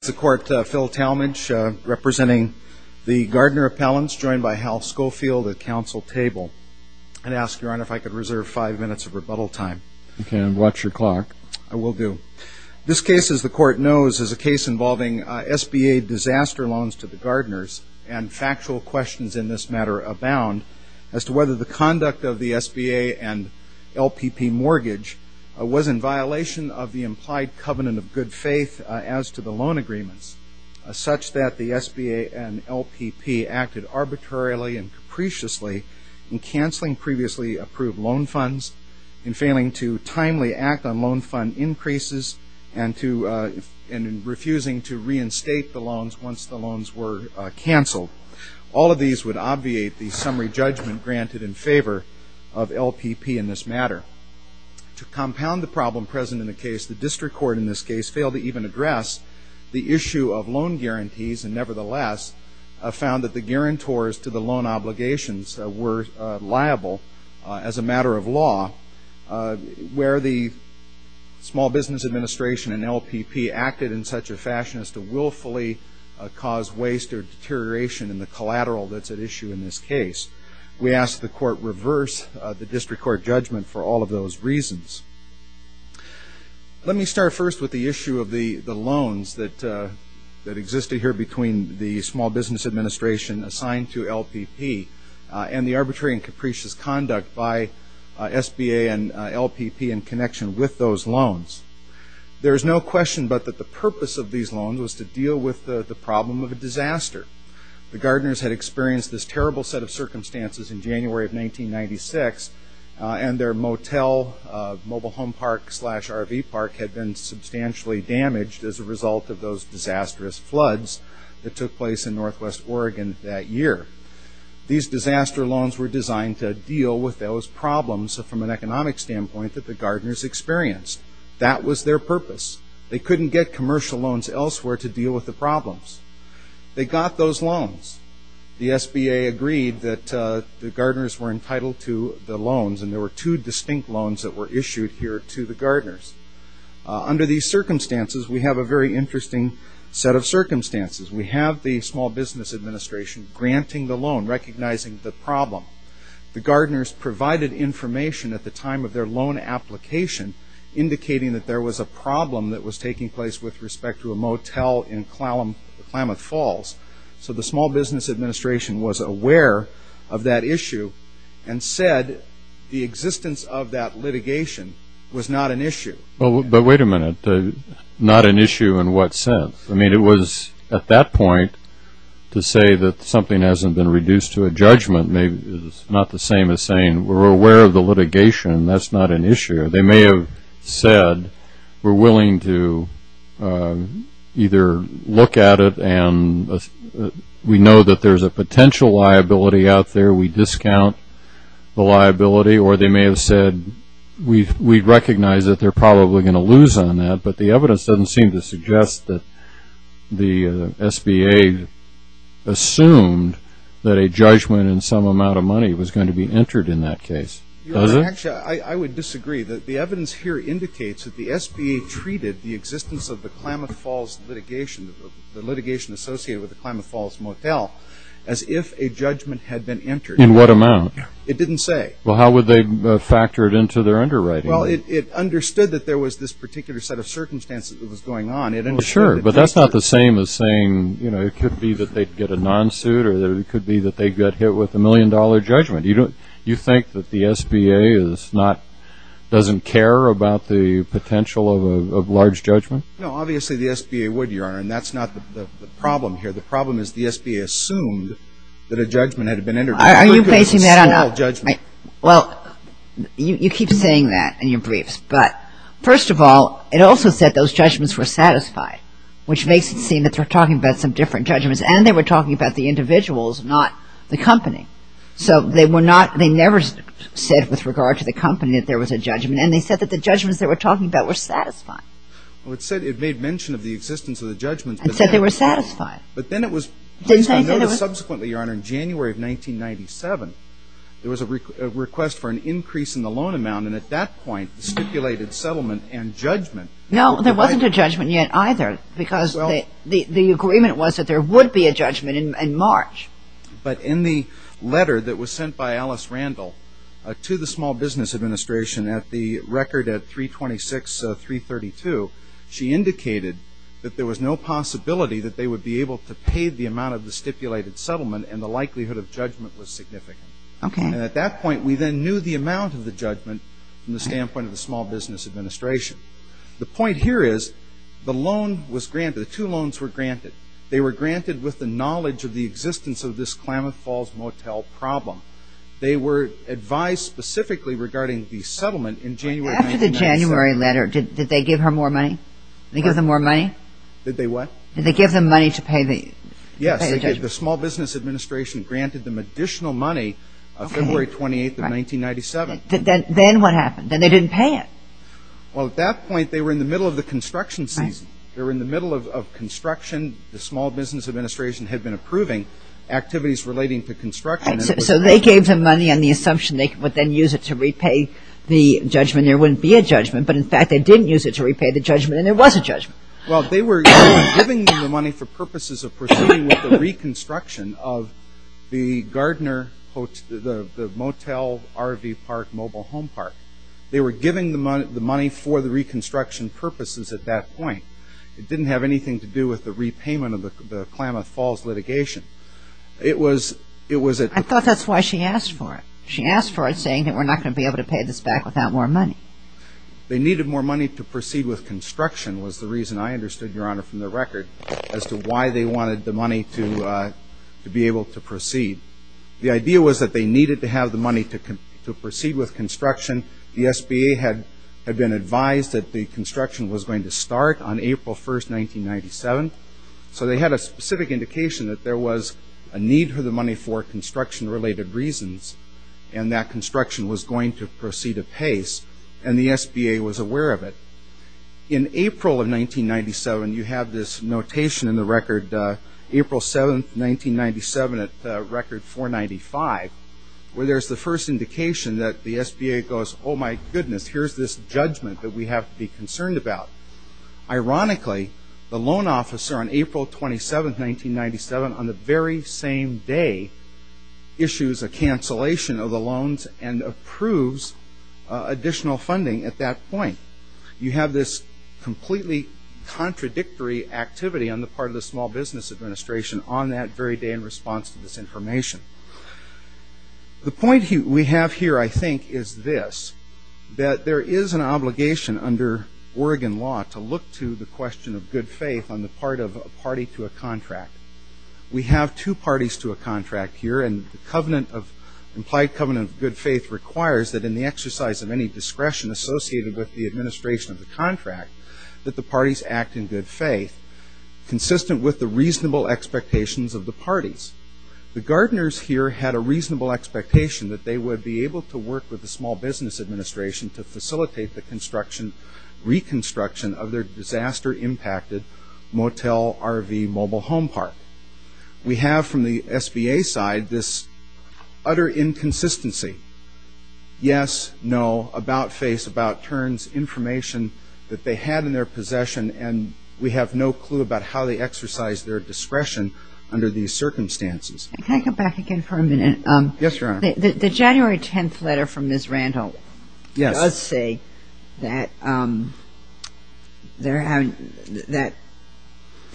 This is the Court, Phil Talmadge representing the Gardner Appellants, joined by Hal Schofield at Council Table. I'd ask, Your Honor, if I could reserve five minutes of rebuttal time. Okay, and watch your clock. I will do. This case, as the Court knows, is a case involving SBA disaster loans to the Gardners, and factual questions in this matter abound as to whether the conduct of the SBA and LPP Mortgage was in violation of the implied covenant of good faith as to the loan agreements, such that the SBA and LPP acted arbitrarily and capriciously in canceling previously approved loan funds, in failing to timely act on loan fund increases, and in refusing to reinstate the loans once the loans were canceled. All of these would obviate the summary judgment granted in favor of LPP in this matter. To compound the problem present in the case, the District Court in this case failed to even address the issue of loan guarantees, and nevertheless found that the guarantors to the loan obligations were liable as a matter of law, where the Small Business Administration and LPP acted in such a fashion as to willfully cause waste or deterioration in the collateral that's at issue in this case. We ask the Court reverse the District Court judgment for all of those reasons. Let me start first with the issue of the loans that existed here between the Small Business Administration assigned to LPP and the arbitrary and capricious conduct by SBA and LPP in connection with those loans. There is no question but that the purpose of these loans was to deal with the problem of a disaster. The gardeners had experienced this terrible set of circumstances in January of 1996, and their motel mobile home park slash RV park had been substantially damaged as a result of those disastrous floods that took place in Northwest Oregon that year. These disaster loans were designed to deal with those problems from an economic standpoint that the gardeners experienced. That was their purpose. They couldn't get commercial loans elsewhere to deal with the problems. They got those loans. The SBA agreed that the gardeners were entitled to the loans, and there were two distinct loans that were issued here to the gardeners. Under these circumstances, we have a very interesting set of circumstances. We have the Small Business Administration granting the loan, recognizing the problem. The gardeners provided information at the time of their loan application indicating that there was a problem that was taking place with respect to a motel in Klamath Falls. So the Small Business Administration was aware of that issue and said the existence of that litigation was not an issue. But wait a minute. Not an issue in what sense? I mean, it was at that point to say that something hasn't been reduced to a judgment is not the same as saying we're aware of the litigation. That's not an issue. They may have said we're willing to either look at it and we know that there's a potential liability out there. We discount the liability. Or they may have said we recognize that they're probably going to lose on that, but the evidence doesn't seem to suggest that the SBA assumed that a judgment and some amount of money was going to be entered in that case. Does it? Actually, I would disagree. The evidence here indicates that the SBA treated the existence of the Klamath Falls litigation, the litigation associated with the Klamath Falls motel, as if a judgment had been entered. In what amount? It didn't say. Well, how would they factor it into their underwriting? Well, it understood that there was this particular set of circumstances that was going on. Sure, but that's not the same as saying it could be that they'd get a non-suit or it could be that they got hit with a million-dollar judgment. You think that the SBA doesn't care about the potential of a large judgment? No, obviously the SBA would, Your Honor, and that's not the problem here. The problem is the SBA assumed that a judgment had been entered. Are you basing that on a small judgment? Well, you keep saying that in your briefs. But first of all, it also said those judgments were satisfied, which makes it seem that they're talking about some different judgments, and they were talking about the individuals, not the company. So they never said with regard to the company that there was a judgment, and they said that the judgments they were talking about were satisfying. Well, it said it made mention of the existence of the judgments. And said they were satisfied. But then it was placed on notice subsequently, Your Honor, in January of 1997. There was a request for an increase in the loan amount, and at that point stipulated settlement and judgment. No, there wasn't a judgment yet either, because the agreement was that there would be a judgment in March. But in the letter that was sent by Alice Randall to the Small Business Administration at the record at 326-332, she indicated that there was no possibility that they would be able to pay the amount of the stipulated settlement, and the likelihood of judgment was significant. And at that point we then knew the amount of the judgment from the standpoint of the Small Business Administration. The point here is the loan was granted, the two loans were granted. They were granted with the knowledge of the existence of this Klamath Falls Motel problem. They were advised specifically regarding the settlement in January 1997. After the January letter, did they give her more money? Did they give them more money? Did they what? Did they give them money to pay the judgment? Yes, they did. The Small Business Administration granted them additional money February 28th of 1997. Then what happened? Then they didn't pay it. Well, at that point they were in the middle of the construction season. They were in the middle of construction. The Small Business Administration had been approving activities relating to construction. So they gave them money on the assumption they would then use it to repay the judgment. There wouldn't be a judgment. But, in fact, they didn't use it to repay the judgment, and there was a judgment. Well, they were giving them the money for purposes of pursuing with the reconstruction of the Gardner Motel RV Park mobile home park. They were giving the money for the reconstruction purposes at that point. It didn't have anything to do with the repayment of the Klamath Falls litigation. I thought that's why she asked for it. She asked for it saying that we're not going to be able to pay this back without more money. They needed more money to proceed with construction was the reason I understood, Your Honor, from the record as to why they wanted the money to be able to proceed. The idea was that they needed to have the money to proceed with construction. The SBA had been advised that the construction was going to start on April 1st, 1997. So they had a specific indication that there was a need for the money for construction-related reasons, and that construction was going to proceed apace, and the SBA was aware of it. In April of 1997, you have this notation in the record, April 7th, 1997 at record 495, where there's the first indication that the SBA goes, oh, my goodness, here's this judgment that we have to be concerned about. Ironically, the loan officer on April 27th, 1997, on the very same day, issues a cancellation of the loans and approves additional funding at that point. You have this completely contradictory activity on the part of the Small Business Administration on that very day in response to this information. The point we have here, I think, is this, that there is an obligation under Oregon law to look to the question of good faith on the part of a party to a contract. We have two parties to a contract here, and the implied covenant of good faith requires that in the exercise of any discretion associated with the administration of the contract that the parties act in good faith, consistent with the reasonable expectations of the parties. The gardeners here had a reasonable expectation that they would be able to work with the Small Business Administration to facilitate the reconstruction of their disaster-impacted motel RV mobile home park. We have from the SBA side this utter inconsistency. Yes, no, about face, about turns, information that they had in their possession, and we have no clue about how they exercised their discretion under these circumstances. Can I come back again for a minute? Yes, Your Honor. The January 10th letter from Ms. Randall does say that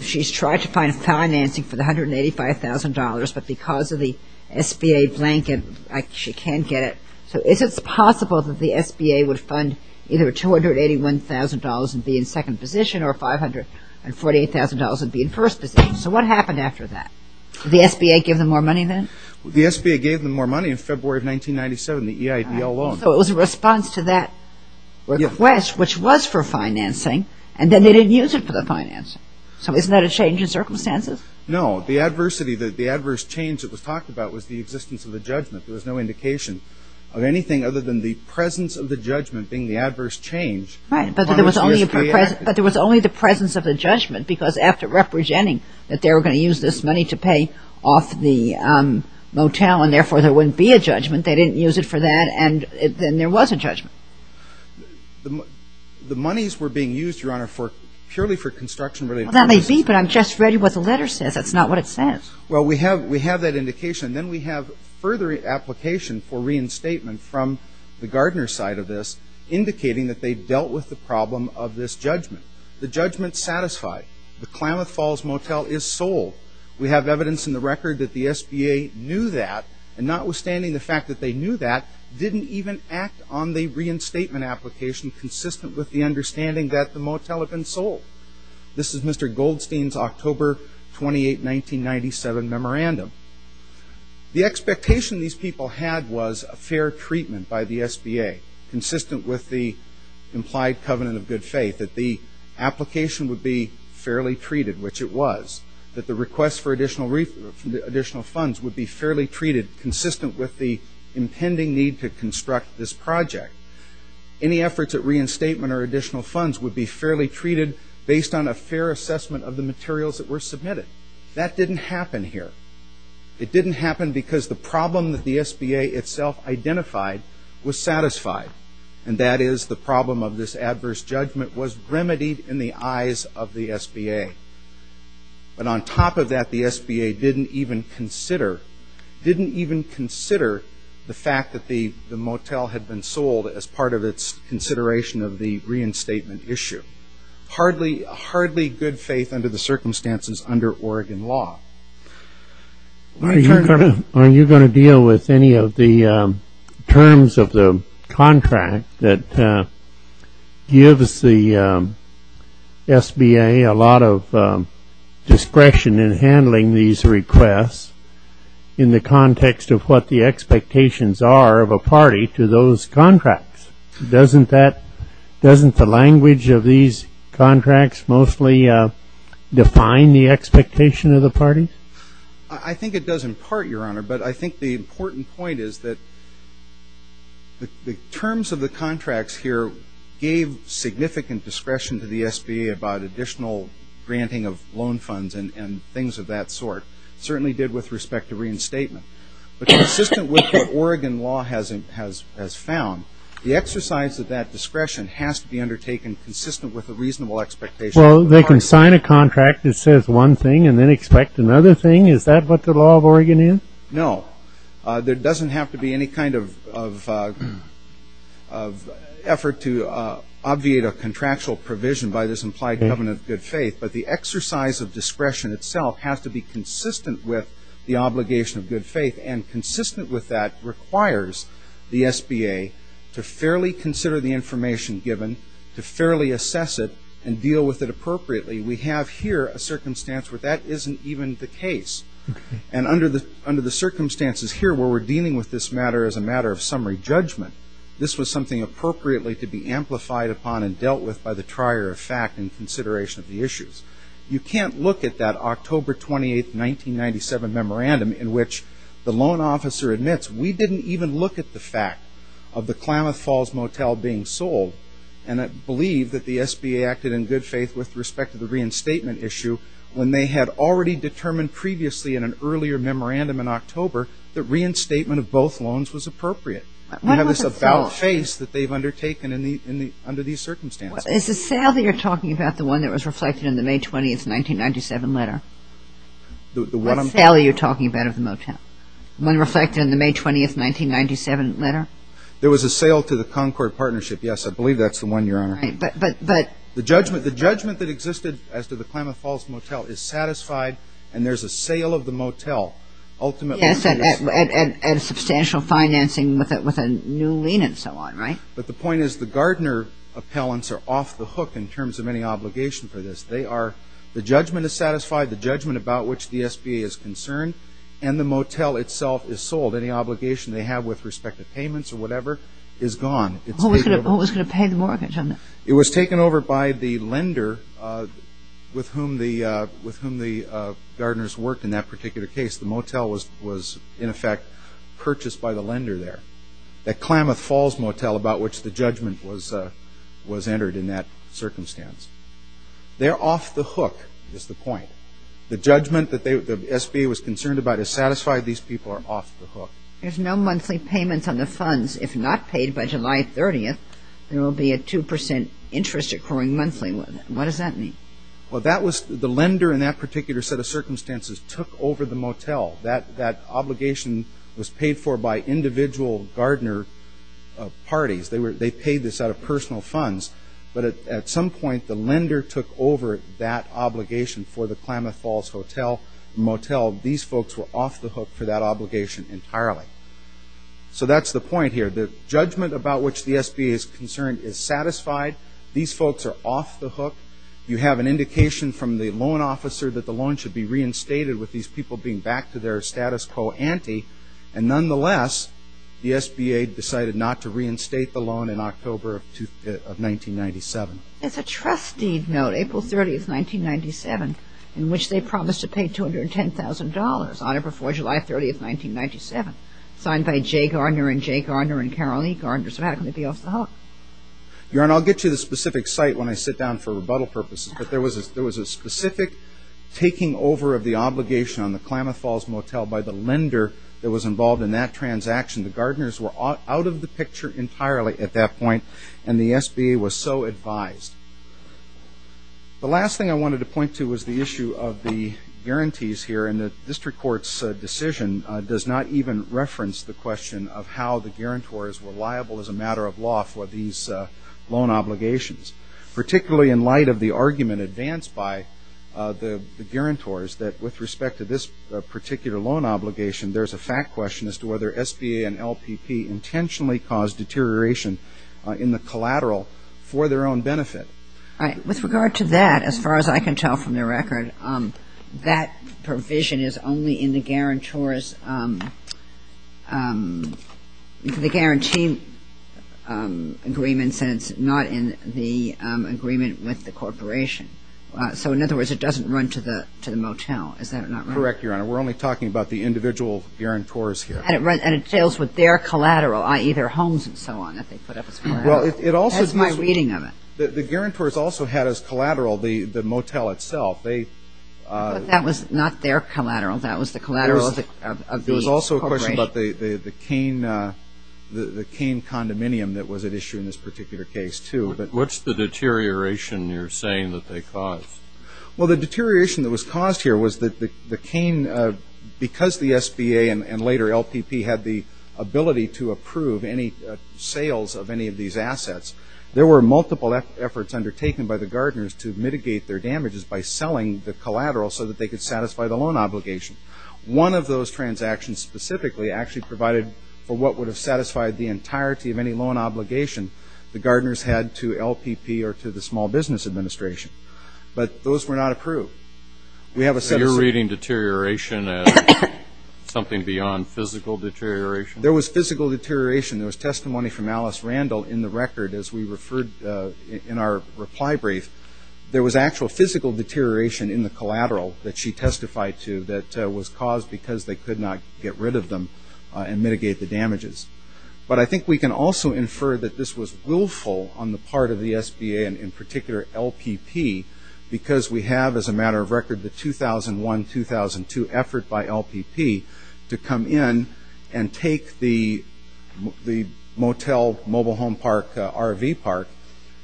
she's tried to find financing for the $185,000, but because of the SBA blanket she can't get it. So is it possible that the SBA would fund either $281,000 and be in second position or $548,000 and be in first position? So what happened after that? Did the SBA give them more money then? The SBA gave them more money in February of 1997, the EIPL loan. So it was a response to that request, which was for financing, and then they didn't use it for the financing. So isn't that a change in circumstances? No. The adversity, the adverse change that was talked about was the existence of a judgment. There was no indication of anything other than the presence of the judgment being the adverse change. Right, but there was only the presence of the judgment because after representing that they were going to use this money to pay off the motel and therefore there wouldn't be a judgment, they didn't use it for that, and then there was a judgment. The monies were being used, Your Honor, purely for construction-related purposes. That may be, but I'm just reading what the letter says. That's not what it says. Well, we have that indication. Then we have further application for reinstatement from the Gardner side of this indicating that they dealt with the problem of this judgment. The judgment's satisfied. The Klamath Falls Motel is sold. We have evidence in the record that the SBA knew that, and notwithstanding the fact that they knew that, didn't even act on the reinstatement application consistent with the understanding that the motel had been sold. This is Mr. Goldstein's October 28, 1997 memorandum. The expectation these people had was a fair treatment by the SBA consistent with the implied covenant of good faith, that the application would be fairly treated, which it was, that the request for additional funds would be fairly treated consistent with the impending need to construct this project. Any efforts at reinstatement or additional funds would be fairly treated based on a fair assessment of the materials that were submitted. That didn't happen here. It didn't happen because the problem that the SBA itself identified was satisfied, and that is the problem of this adverse judgment was remedied in the eyes of the SBA. But on top of that, the SBA didn't even consider the fact that the motel had been sold as part of its consideration of the reinstatement issue. Hardly good faith under the circumstances under Oregon law. Are you going to deal with any of the terms of the contract that gives the SBA a lot of discretion in handling these requests in the context of what the expectations are of a party to those contracts? Doesn't the language of these contracts mostly define the expectation of the parties? I think it does in part, Your Honor, but I think the important point is that the terms of the contracts here gave significant discretion to the SBA about additional granting of loan funds and things of that sort. It certainly did with respect to reinstatement. But consistent with what Oregon law has found, the exercise of that discretion has to be undertaken consistent with a reasonable expectation. Well, they can sign a contract that says one thing and then expect another thing. Is that what the law of Oregon is? No. There doesn't have to be any kind of effort to obviate a contractual provision by this implied covenant of good faith, but the exercise of discretion itself has to be consistent with the obligation of good faith. And consistent with that requires the SBA to fairly consider the information given, to fairly assess it, and deal with it appropriately. We have here a circumstance where that isn't even the case. And under the circumstances here where we're dealing with this matter as a matter of summary judgment, this was something appropriately to be amplified upon and dealt with by the trier of fact in consideration of the issues. You can't look at that October 28, 1997 memorandum in which the loan officer admits, we didn't even look at the fact of the Klamath Falls Motel being sold and believe that the SBA acted in good faith with respect to the reinstatement issue when they had already determined previously in an earlier memorandum in October that reinstatement of both loans was appropriate. We have this about face that they've undertaken under these circumstances. Is the sale that you're talking about the one that was reflected in the May 20, 1997 letter? What sale are you talking about of the motel? The one reflected in the May 20, 1997 letter? There was a sale to the Concord Partnership. Yes, I believe that's the one, Your Honor. But the judgment that existed as to the Klamath Falls Motel is satisfied and there's a sale of the motel. Yes, and substantial financing with a new lien and so on, right? But the point is the Gardner appellants are off the hook in terms of any obligation for this. The judgment is satisfied, the judgment about which the SBA is concerned, and the motel itself is sold. Any obligation they have with respect to payments or whatever is gone. Who was going to pay the mortgage on that? It was taken over by the lender with whom the Gardners worked in that particular case. The motel was, in effect, purchased by the lender there. The Klamath Falls Motel about which the judgment was entered in that circumstance. They're off the hook is the point. The judgment that the SBA was concerned about is satisfied. These people are off the hook. There's no monthly payments on the funds. If not paid by July 30th, there will be a 2% interest accruing monthly. What does that mean? The lender in that particular set of circumstances took over the motel. That obligation was paid for by individual Gardner parties. They paid this out of personal funds. But at some point, the lender took over that obligation for the Klamath Falls Motel. These folks were off the hook for that obligation entirely. So that's the point here. The judgment about which the SBA is concerned is satisfied. These folks are off the hook. You have an indication from the loan officer that the loan should be reinstated with these people being back to their status quo ante. And nonetheless, the SBA decided not to reinstate the loan in October of 1997. There's a trustee note, April 30th, 1997, in which they promised to pay $210,000 on or before July 30th, 1997, signed by Jay Gardner and Jay Gardner and Carol E. Gardner. So how can they be off the hook? I'll get to the specific site when I sit down for rebuttal purposes, but there was a specific taking over of the obligation on the Klamath Falls Motel by the lender that was involved in that transaction. The Gardners were out of the picture entirely at that point, and the SBA was so advised. The last thing I wanted to point to was the issue of the guarantees here, and the district court's decision does not even reference the question of how the guarantors were liable as a matter of law for these loan obligations, particularly in light of the argument advanced by the guarantors that, with respect to this particular loan obligation, there's a fact question as to whether SBA and LPP intentionally caused deterioration in the collateral for their own benefit. With regard to that, as far as I can tell from the record, that provision is only in the guarantors' the guarantee agreements, and it's not in the agreement with the corporation. So, in other words, it doesn't run to the motel. Is that not right? Correct, Your Honor. We're only talking about the individual guarantors here. And it deals with their collateral, i.e., their homes and so on that they put up as collateral. That's my reading of it. The guarantors also had as collateral the motel itself. But that was not their collateral. That was the collateral of the corporation. There was also a question about the Kane condominium that was at issue in this particular case, too. What's the deterioration you're saying that they caused? Well, the deterioration that was caused here was that the Kane, because the SBA and later LPP had the ability to approve any sales of any of these assets, there were multiple efforts undertaken by the guarantors to mitigate their damages by selling the collateral so that they could satisfy the loan obligation. One of those transactions specifically actually provided for what would have satisfied the entirety of any loan obligation the guarantors had to LPP or to the Small Business Administration. But those were not approved. You're reading deterioration as something beyond physical deterioration? There was physical deterioration. There was testimony from Alice Randall in the record as we referred in our reply brief. There was actual physical deterioration in the collateral that she testified to that was caused because they could not get rid of them and mitigate the damages. But I think we can also infer that this was willful on the part of the SBA, and in particular LPP, because we have as a matter of record the 2001-2002 effort by LPP to come in and take the motel mobile home park, RV park,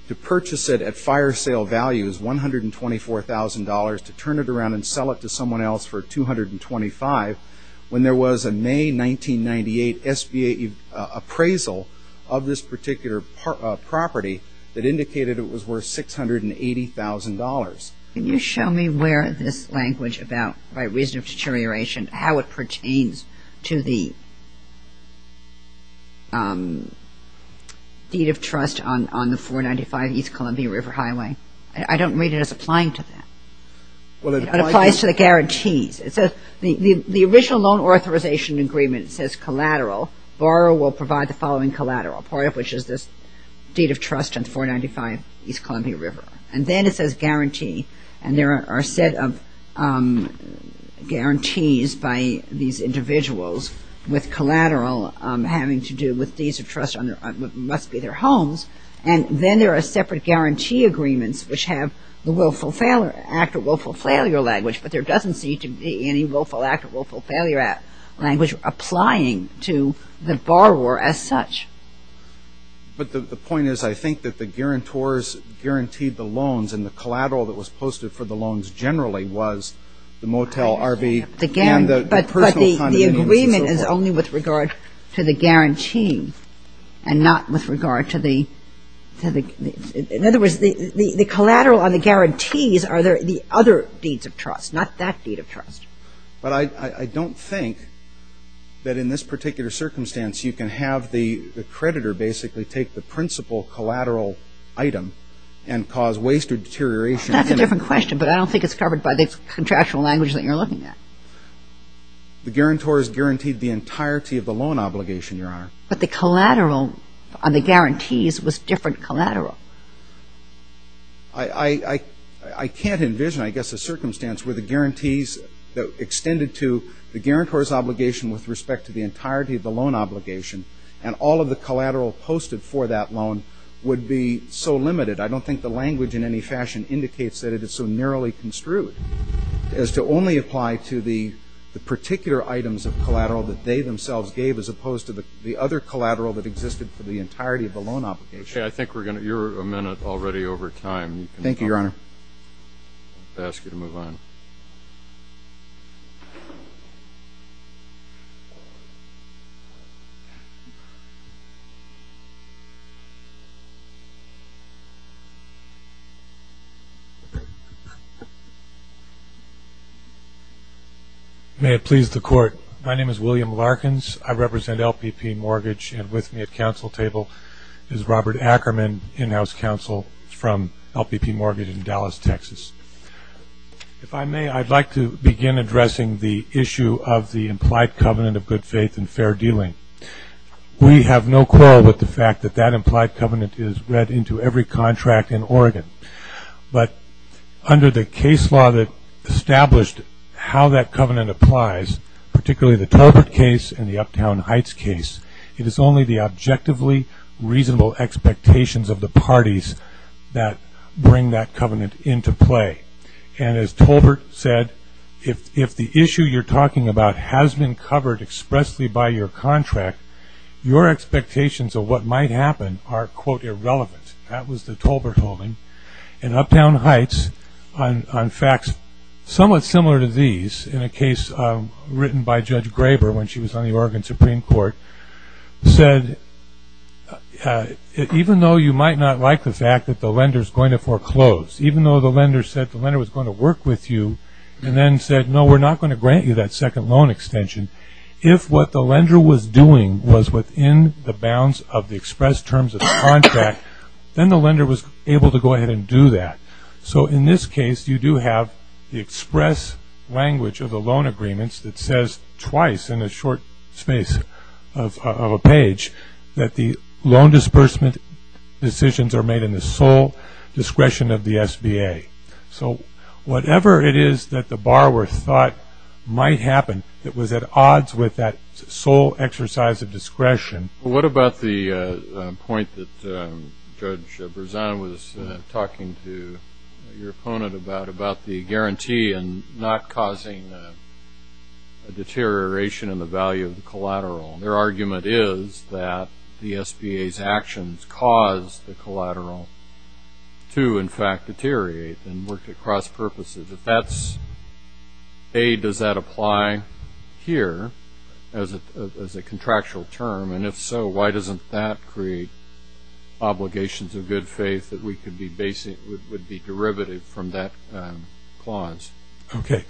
to purchase it at fire sale values, $124,000, to turn it around and sell it to someone else for $225,000, when there was a May 1998 SBA appraisal of this particular property that indicated it was worth $680,000. Can you show me where this language about reason of deterioration, how it pertains to the deed of trust on the 495 East Columbia River Highway? I don't read it as applying to that. It applies to the guarantees. The original loan authorization agreement says collateral, borrower will provide the following collateral, which is this deed of trust on the 495 East Columbia River. And then it says guarantee, and there are a set of guarantees by these individuals with collateral having to do with deeds of trust on what must be their homes, and then there are separate guarantee agreements, which have the willful act or willful failure language, but there doesn't seem to be any willful act or willful failure language applying to the borrower as such. But the point is I think that the guarantors guaranteed the loans and the collateral that was posted for the loans generally was the motel, RV, and the personal condominiums and so forth. But the agreement is only with regard to the guarantee and not with regard to the — in other words, the collateral on the guarantees are the other deeds of trust, not that deed of trust. But I don't think that in this particular circumstance you can have the creditor basically take the principal collateral item and cause waste or deterioration. That's a different question, but I don't think it's covered by the contractual language that you're looking at. The guarantor is guaranteed the entirety of the loan obligation, Your Honor. But the collateral on the guarantees was different collateral. I can't envision, I guess, a circumstance where the guarantees extended to the guarantor's obligation with respect to the entirety of the loan obligation and all of the collateral posted for that loan would be so limited. I don't think the language in any fashion indicates that it is so narrowly construed as to only apply to the particular items of collateral that they themselves gave as opposed to the other collateral that existed for the entirety of the loan obligation. Okay. I think we're going to—you're a minute already over time. Thank you, Your Honor. I'll ask you to move on. May it please the Court. My name is William Larkins. I represent LPP Mortgage and with me at council table is Robert Ackerman, in-house counsel from LPP Mortgage in Dallas, Texas. If I may, I'd like to begin addressing the issue of the implied covenant of good faith and fair dealing. We have no quarrel with the fact that that implied covenant is read into every contract in Oregon. But under the case law that established how that covenant applies, particularly the Talbert case and the Uptown Heights case, it is only the objectively reasonable expectations of the parties that bring that covenant into play. And as Talbert said, if the issue you're talking about has been covered expressly by your contract, your expectations of what might happen are, quote, irrelevant. That was the Talbert holding. In Uptown Heights, on facts somewhat similar to these, in a case written by Judge Graber when she was on the Oregon Supreme Court, said even though you might not like the fact that the lender is going to foreclose, even though the lender said the lender was going to work with you and then said, no, we're not going to grant you that second loan extension, if what the lender was doing was within the bounds of the express terms of the contract, then the lender was able to go ahead and do that. So in this case, you do have the express language of the loan agreements that says twice in a short space of a page that the loan disbursement decisions are made in the sole discretion of the SBA. So whatever it is that the borrower thought might happen, it was at odds with that sole exercise of discretion. Well, what about the point that Judge Berzan was talking to your opponent about, about the guarantee and not causing a deterioration in the value of the collateral? Their argument is that the SBA's actions caused the collateral to, in fact, deteriorate and worked at cross purposes. If that's A, does that apply here as a contractual term? And if so, why doesn't that create obligations of good faith that would be derivative from that clause? Okay.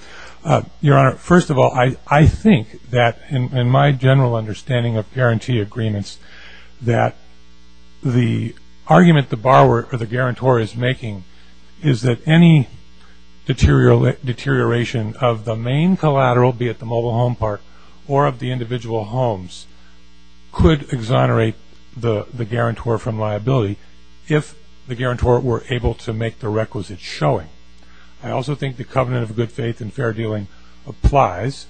Your Honor, first of all, I think that in my general understanding of guarantee agreements that the argument the borrower or the guarantor is making is that any deterioration of the main collateral, be it the mobile home part or of the individual homes, could exonerate the guarantor from liability if the guarantor were able to make the requisite showing. I also think the covenant of good faith and fair dealing applies,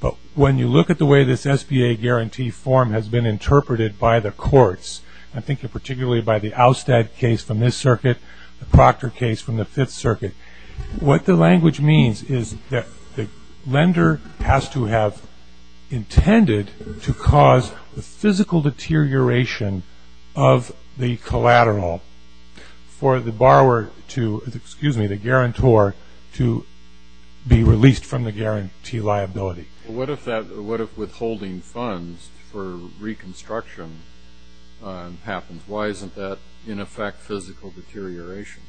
but when you look at the way this SBA guarantee form has been interpreted by the courts, I think particularly by the Oustad case from this circuit, the Proctor case from the Fifth Circuit, what the language means is that the lender has to have intended to cause the physical deterioration of the collateral for the guarantor to be released from the guarantee liability. What if withholding funds for reconstruction happens? Why isn't that, in effect, physical deterioration?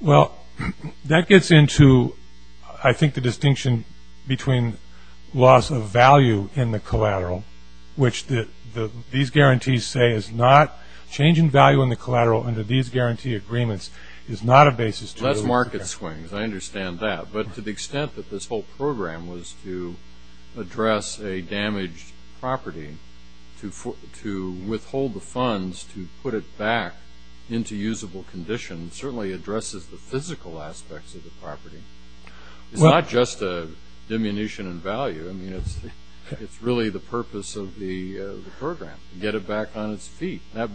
Well, that gets into, I think, the distinction between loss of value in the collateral, which these guarantees say is not change in value in the collateral under these guarantee agreements is not a basis to- Less market swings. I understand that. But to the extent that this whole program was to address a damaged property, to withhold the funds to put it back into usable condition certainly addresses the physical aspects of the property. It's not just a diminution in value. I mean, it's really the purpose of the program, to get it back on its feet. That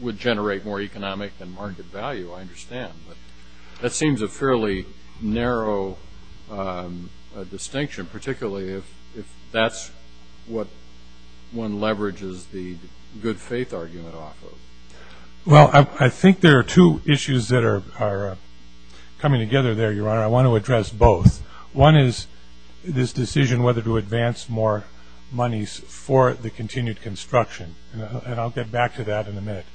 would generate more economic and market value, I understand. That seems a fairly narrow distinction, particularly if that's what one leverages the good faith argument off of. Well, I think there are two issues that are coming together there, Your Honor. I want to address both. One is this decision whether to advance more monies for the continued construction, and I'll get back to that in a minute.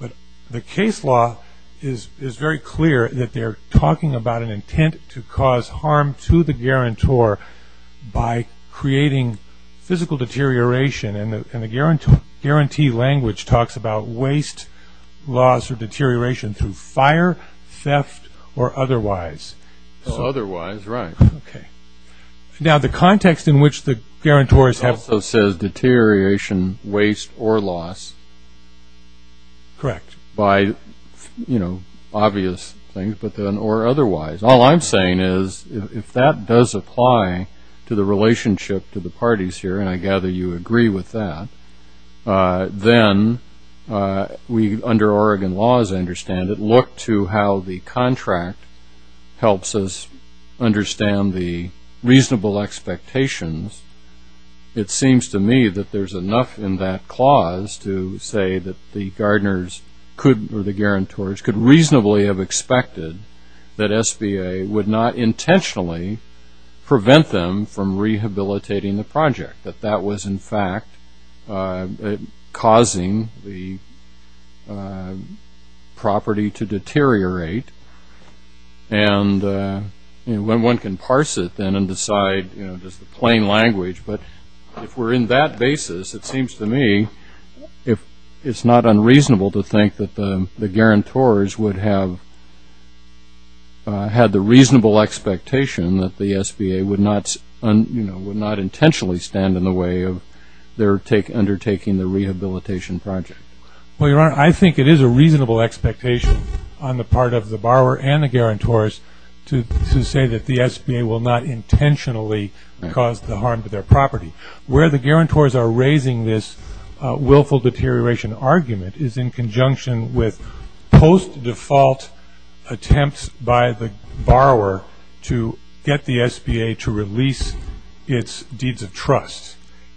But the case law is very clear that they're talking about an intent to cause harm to the guarantor by creating physical deterioration, and the guarantee language talks about waste, loss, or deterioration through fire, theft, or otherwise. Otherwise, right. Okay. Now, the context in which the guarantors have- Correct. By, you know, obvious things, but then, or otherwise. All I'm saying is, if that does apply to the relationship to the parties here, and I gather you agree with that, then we, under Oregon law, as I understand it, look to how the contract helps us understand the reasonable expectations. It seems to me that there's enough in that clause to say that the gardeners could, or the guarantors, could reasonably have expected that SBA would not intentionally prevent them from rehabilitating the project, that that was, in fact, causing the property to deteriorate. And, you know, one can parse it, then, and decide, you know, just the plain language. But if we're in that basis, it seems to me it's not unreasonable to think that the guarantors would have had the reasonable expectation that the SBA would not, you know, would not intentionally stand in the way of their undertaking the rehabilitation project. Well, Your Honor, I think it is a reasonable expectation on the part of the borrower and the guarantors to say that the SBA will not intentionally cause the harm to their property. Where the guarantors are raising this willful deterioration argument is in conjunction with post-default attempts by the borrower to get the SBA to release its deeds of trust.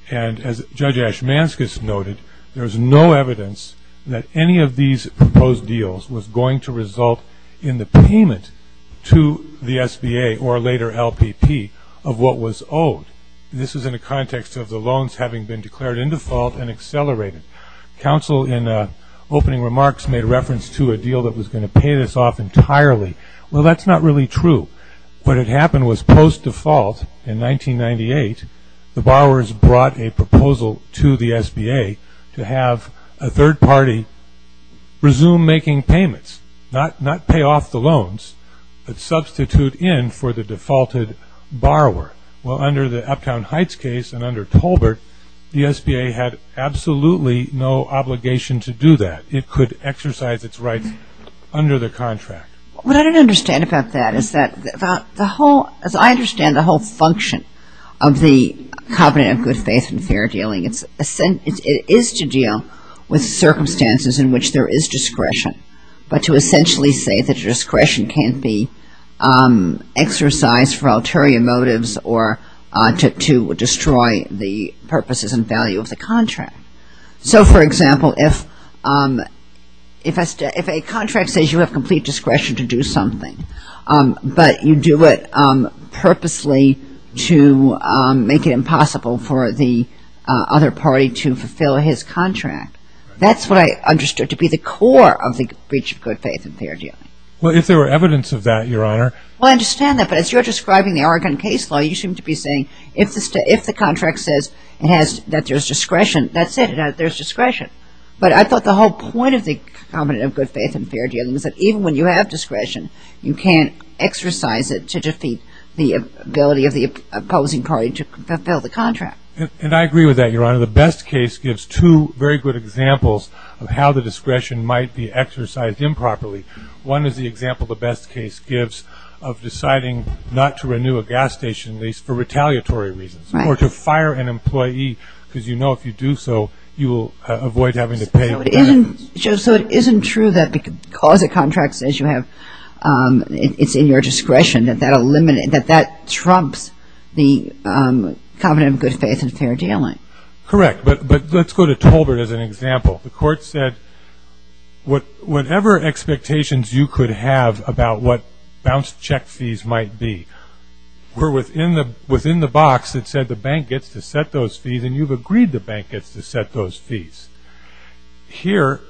And as Judge Ashmanskas noted, there's no evidence that any of these proposed deals was going to result in the payment to the SBA, or later LPP, of what was owed. This is in the context of the loans having been declared in default and accelerated. Counsel, in opening remarks, made reference to a deal that was going to pay this off entirely. Well, that's not really true. What had happened was post-default in 1998, the borrowers brought a proposal to the SBA to have a third party resume making payments, not pay off the loans, but substitute in for the defaulted borrower. Well, under the Uptown Heights case and under Tolbert, the SBA had absolutely no obligation to do that. It could exercise its rights under the contract. What I don't understand about that is that, as I understand the whole function of the covenant of good faith and fair dealing, it is to deal with circumstances in which there is discretion, but to essentially say that discretion can't be exercised for ulterior motives or to destroy the purposes and value of the contract. So, for example, if a contract says you have complete discretion to do something, but you do it purposely to make it impossible for the other party to fulfill his contract, that's what I understood to be the core of the breach of good faith and fair dealing. Well, if there were evidence of that, Your Honor. Well, I understand that, but as you're describing the Oregon case law, you seem to be saying if the contract says that there's discretion, that's it, there's discretion. But I thought the whole point of the covenant of good faith and fair dealing is that even when you have discretion, you can't exercise it to defeat the ability of the opposing party to fulfill the contract. And I agree with that, Your Honor. The Best case gives two very good examples of how the discretion might be exercised improperly. One is the example the Best case gives of deciding not to renew a gas station lease for retaliatory reasons or to fire an employee because you know if you do so, you will avoid having to pay. So it isn't true that because a contract says it's in your discretion, that that trumps the covenant of good faith and fair dealing. Correct. But let's go to Tolbert as an example. The court said whatever expectations you could have about what bounced check fees might be were within the box that said the bank gets to set those fees and you've agreed the bank gets to set those fees. Here,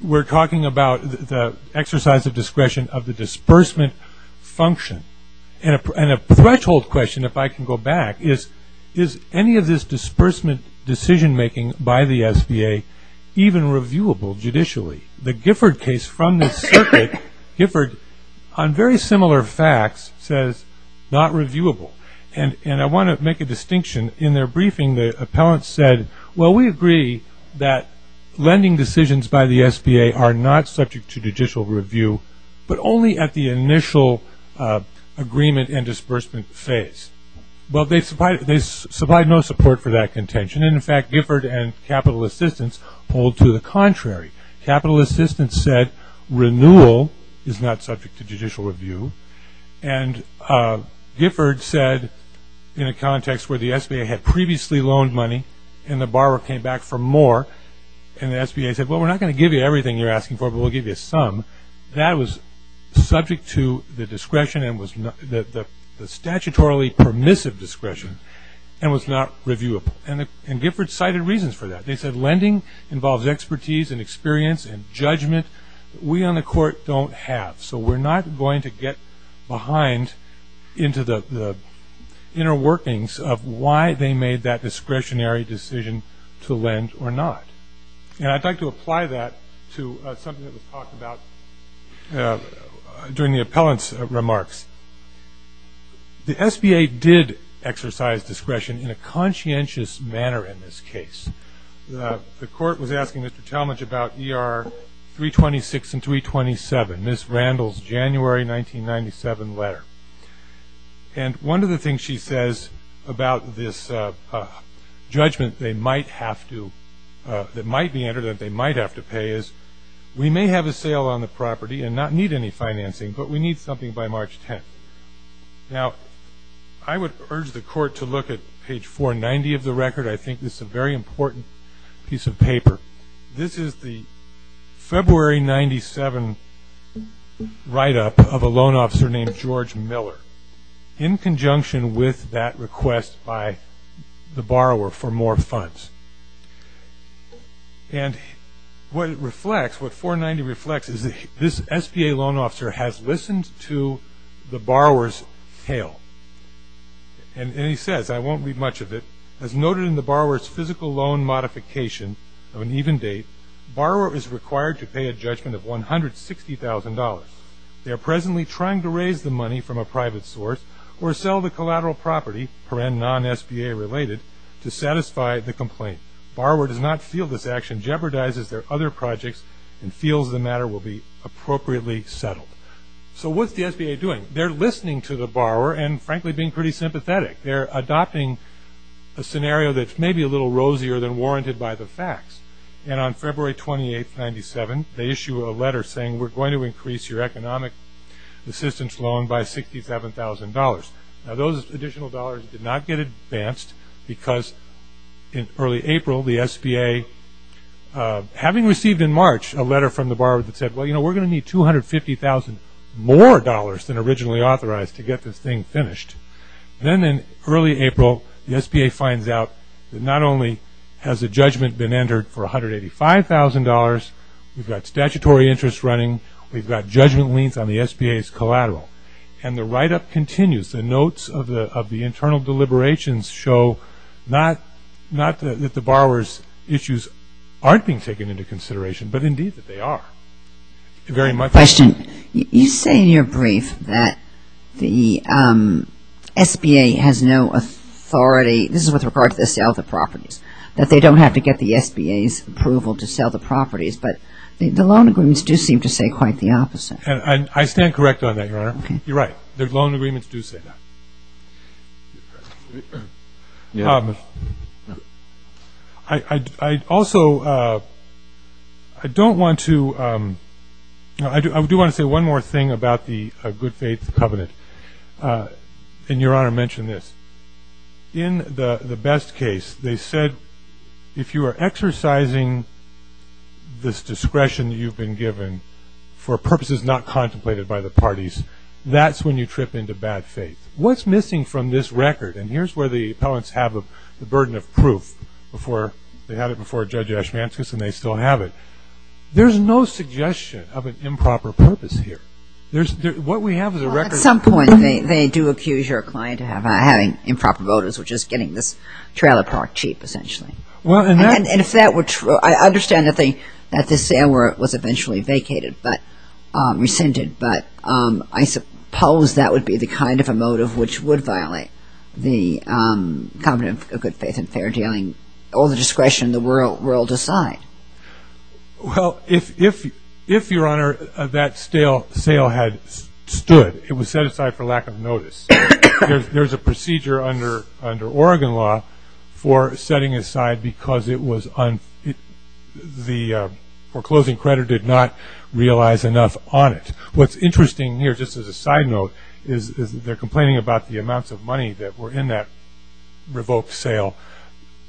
we're talking about the exercise of discretion of the disbursement function. And a threshold question, if I can go back, is any of this disbursement decision making by the SBA even reviewable judicially? The Gifford case from the circuit, Gifford, on very similar facts says not reviewable. And I want to make a distinction. In their briefing, the appellant said, well, we agree that lending decisions by the SBA are not subject to judicial review, but only at the initial agreement and disbursement phase. Well, they supplied no support for that contention. And, in fact, Gifford and capital assistance hold to the contrary. Capital assistance said renewal is not subject to judicial review. And Gifford said, in a context where the SBA had previously loaned money and the borrower came back for more, and the SBA said, well, we're not going to give you everything you're asking for, but we'll give you some. That was subject to the discretion and was the statutorily permissive discretion and was not reviewable. And Gifford cited reasons for that. They said lending involves expertise and experience and judgment. We on the court don't have. So we're not going to get behind into the inner workings of why they made that discretionary decision to lend or not. And I'd like to apply that to something that was talked about during the appellant's remarks. The SBA did exercise discretion in a conscientious manner in this case. The court was asking Mr. Talmadge about ER 326 and 327, Ms. Randall's January 1997 letter. And one of the things she says about this judgment they might have to, that might be entered that they might have to pay is, we may have a sale on the property and not need any financing, but we need something by March 10th. Now, I would urge the court to look at page 490 of the record. I think this is a very important piece of paper. This is the February 1997 write-up of a loan officer named George Miller, in conjunction with that request by the borrower for more funds. And what it reflects, what 490 reflects, is this SBA loan officer has listened to the borrower's tale. And he says, I won't read much of it, As noted in the borrower's physical loan modification of an even date, borrower is required to pay a judgment of $160,000. They are presently trying to raise the money from a private source or sell the collateral property, perenn non-SBA related, to satisfy the complaint. Borrower does not feel this action jeopardizes their other projects and feels the matter will be appropriately settled. So what's the SBA doing? They're listening to the borrower and, frankly, being pretty sympathetic. They're adopting a scenario that's maybe a little rosier than warranted by the facts. And on February 28, 1997, they issue a letter saying, We're going to increase your economic assistance loan by $67,000. Now, those additional dollars did not get advanced because in early April, the SBA, having received in March a letter from the borrower that said, Well, you know, we're going to need $250,000 more than originally authorized to get this thing finished. Then in early April, the SBA finds out that not only has a judgment been entered for $185,000, we've got statutory interest running, we've got judgment liens on the SBA's collateral. And the write-up continues. The notes of the internal deliberations show not that the borrower's issues aren't being taken into consideration, but indeed that they are. Question. You say in your brief that the SBA has no authority. This is with regard to the sale of the properties, that they don't have to get the SBA's approval to sell the properties. But the loan agreements do seem to say quite the opposite. I stand correct on that, Your Honor. You're right. The loan agreements do say that. I also don't want to – I do want to say one more thing about the good faith covenant. And, Your Honor, mention this. In the best case, they said if you are exercising this discretion you've been given for purposes not contemplated by the parties, that's when you trip into bad faith. What's missing from this record? And here's where the appellants have the burden of proof before – they had it before Judge Ashmanskas and they still have it. There's no suggestion of an improper purpose here. There's – what we have is a record – Well, at some point they do accuse your client of having improper motives, which is getting this trailer parked cheap, essentially. Well, and that – And if that were true, I understand that they – that this sale was eventually vacated, but – rescinded. But I suppose that would be the kind of a motive which would violate the covenant of good faith and fair dealing or the discretion the world decide. Well, if, Your Honor, that sale had stood, it was set aside for lack of notice. There's a procedure under Oregon law for setting aside because it was – the foreclosing creditor did not realize enough on it. What's interesting here, just as a side note, is they're complaining about the amounts of money that were in that revoked sale,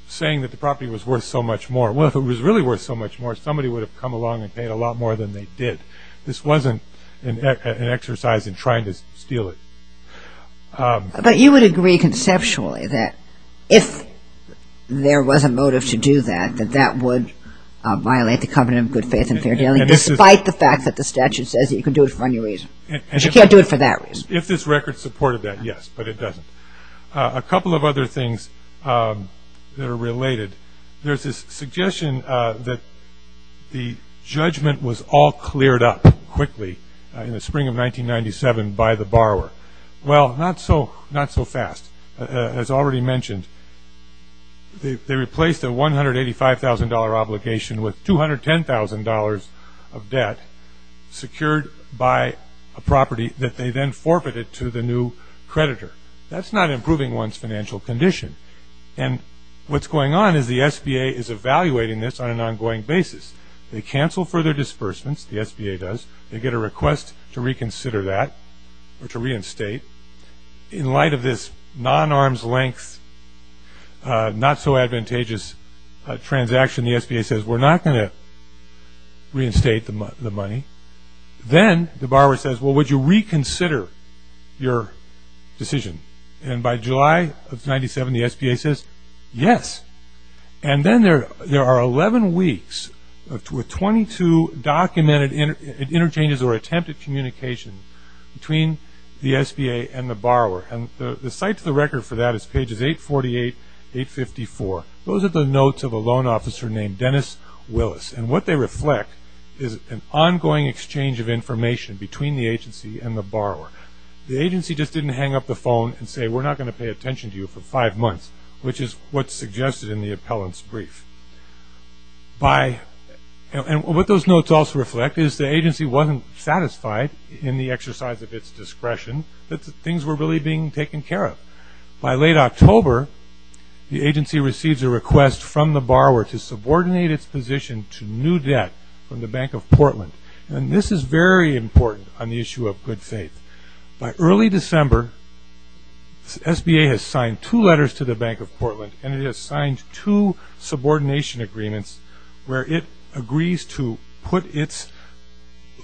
saying that the property was worth so much more. Well, if it was really worth so much more, somebody would have come along and paid a lot more than they did. This wasn't an exercise in trying to steal it. But you would agree conceptually that if there was a motive to do that, that that would violate the covenant of good faith and fair dealing, despite the fact that the statute says that you can do it for any reason. But you can't do it for that reason. If this record supported that, yes, but it doesn't. A couple of other things that are related. There's this suggestion that the judgment was all cleared up quickly in the spring of 1997 by the borrower. Well, not so fast. As already mentioned, they replaced a $185,000 obligation with $210,000 of debt secured by a property that they then forfeited to the new creditor. That's not improving one's financial condition. And what's going on is the SBA is evaluating this on an ongoing basis. They cancel further disbursements, the SBA does. They get a request to reconsider that or to reinstate. In light of this non-arm's length, not so advantageous transaction, the SBA says we're not going to reinstate the money. Then the borrower says, well, would you reconsider your decision? And by July of 97, the SBA says yes. And then there are 11 weeks with 22 documented interchanges or attempted communication between the SBA and the borrower. And the site to the record for that is pages 848, 854. Those are the notes of a loan officer named Dennis Willis. And what they reflect is an ongoing exchange of information between the agency and the borrower. The agency just didn't hang up the phone and say we're not going to pay attention to you for five months, which is what's suggested in the appellant's brief. And what those notes also reflect is the agency wasn't satisfied in the exercise of its discretion that things were really being taken care of. By late October, the agency receives a request from the borrower to subordinate its position to new debt from the Bank of Portland. And this is very important on the issue of good faith. By early December, SBA has signed two letters to the Bank of Portland and it has signed two subordination agreements where it agrees to put its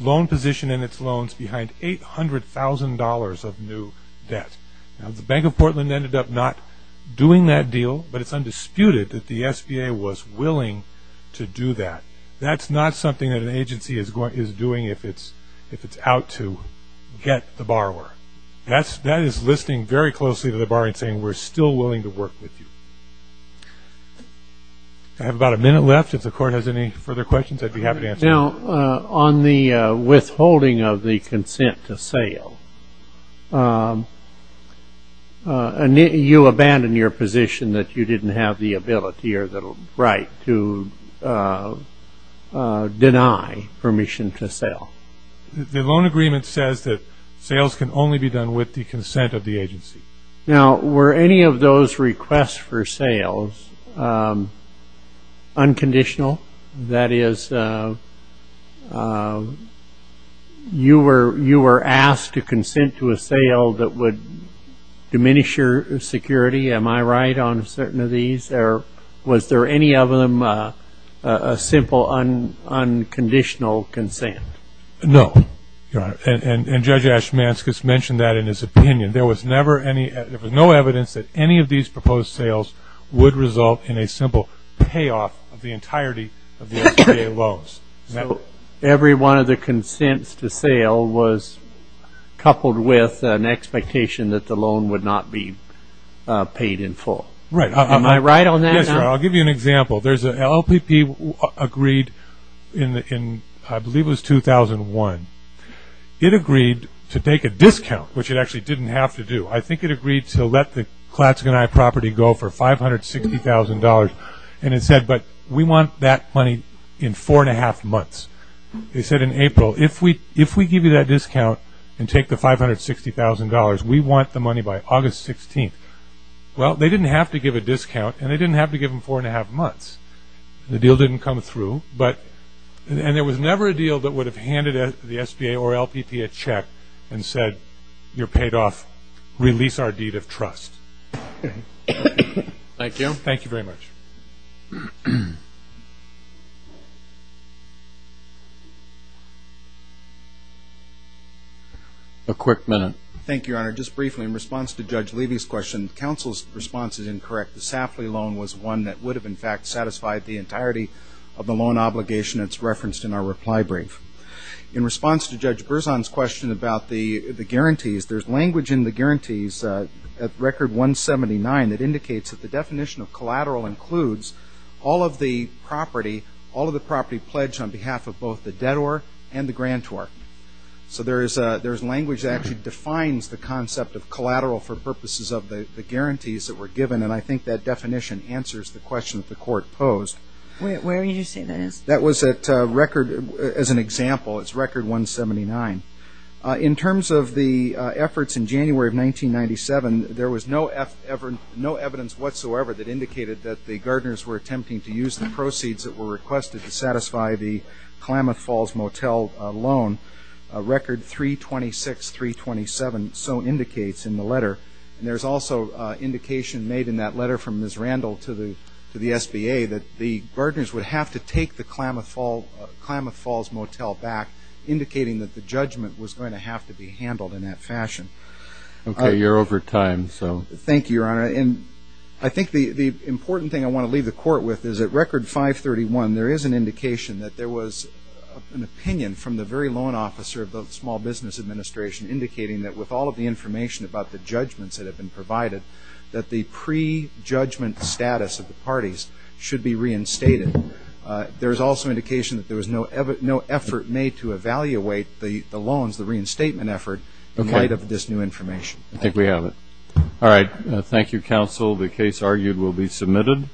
loan position and its loans behind $800,000 of new debt. Now, the Bank of Portland ended up not doing that deal, but it's undisputed that the SBA was willing to do that. That's not something that an agency is doing if it's out to get the borrower. That is listening very closely to the borrower and saying we're still willing to work with you. I have about a minute left. If the Court has any further questions, I'd be happy to answer them. Now, on the withholding of the consent to sale, you abandon your position that you didn't have the ability or the right to deny permission to sell. The loan agreement says that sales can only be done with the consent of the agency. Now, were any of those requests for sales unconditional? That is, you were asked to consent to a sale that would diminish your security. Am I right on certain of these? Was there any of them a simple unconditional consent? No, Your Honor. And Judge Ashmanskas mentioned that in his opinion. There was no evidence that any of these proposed sales would result in a simple payoff of the entirety of the SBA loans. So every one of the consents to sale was coupled with an expectation that the loan would not be paid in full. Right. Am I right on that? Yes, Your Honor. I'll give you an example. There's an LPP agreed in I believe it was 2001. It agreed to take a discount, which it actually didn't have to do. I think it agreed to let the Klatsk and I property go for $560,000. And it said, but we want that money in four and a half months. They said in April, if we give you that discount and take the $560,000, we want the money by August 16th. Well, they didn't have to give a discount and they didn't have to give them four and a half months. The deal didn't come through. And there was never a deal that would have handed the SBA or LPP a check and said, you're paid off. Release our deed of trust. Thank you. Thank you very much. A quick minute. Thank you, Your Honor. Just briefly, in response to Judge Levy's question, counsel's response is incorrect. The Safley loan was one that would have, in fact, satisfied the entirety of the loan obligation that's referenced in our reply brief. In response to Judge Berzon's question about the guarantees, there's language in the guarantees at Record 179 that indicates that the definition of collateral includes all of the property, all of the property pledged on behalf of both the debtor and the grantor. So there's language that actually defines the concept of collateral for purposes of the guarantees that were given, and I think that definition answers the question that the Court posed. Where did you say that is? That was at Record, as an example, it's Record 179. In terms of the efforts in January of 1997, there was no evidence whatsoever that indicated that the Gardners were attempting to use the proceeds that were requested to satisfy the Klamath Falls Motel loan. Record 326, 327 so indicates in the letter, and there's also indication made in that letter from Ms. Randall to the SBA that the Gardners would have to take the Klamath Falls Motel back, indicating that the judgment was going to have to be handled in that fashion. Okay. You're over time, so. Thank you, Your Honor. I think the important thing I want to leave the Court with is at Record 531, there is an indication that there was an opinion from the very loan officer of the Small Business Administration indicating that with all of the information about the judgments that have been provided, that the prejudgment status of the parties should be reinstated. There's also indication that there was no effort made to evaluate the loans, the reinstatement effort, in light of this new information. I think we have it. All right. Thank you, Counsel. The case argued will be submitted.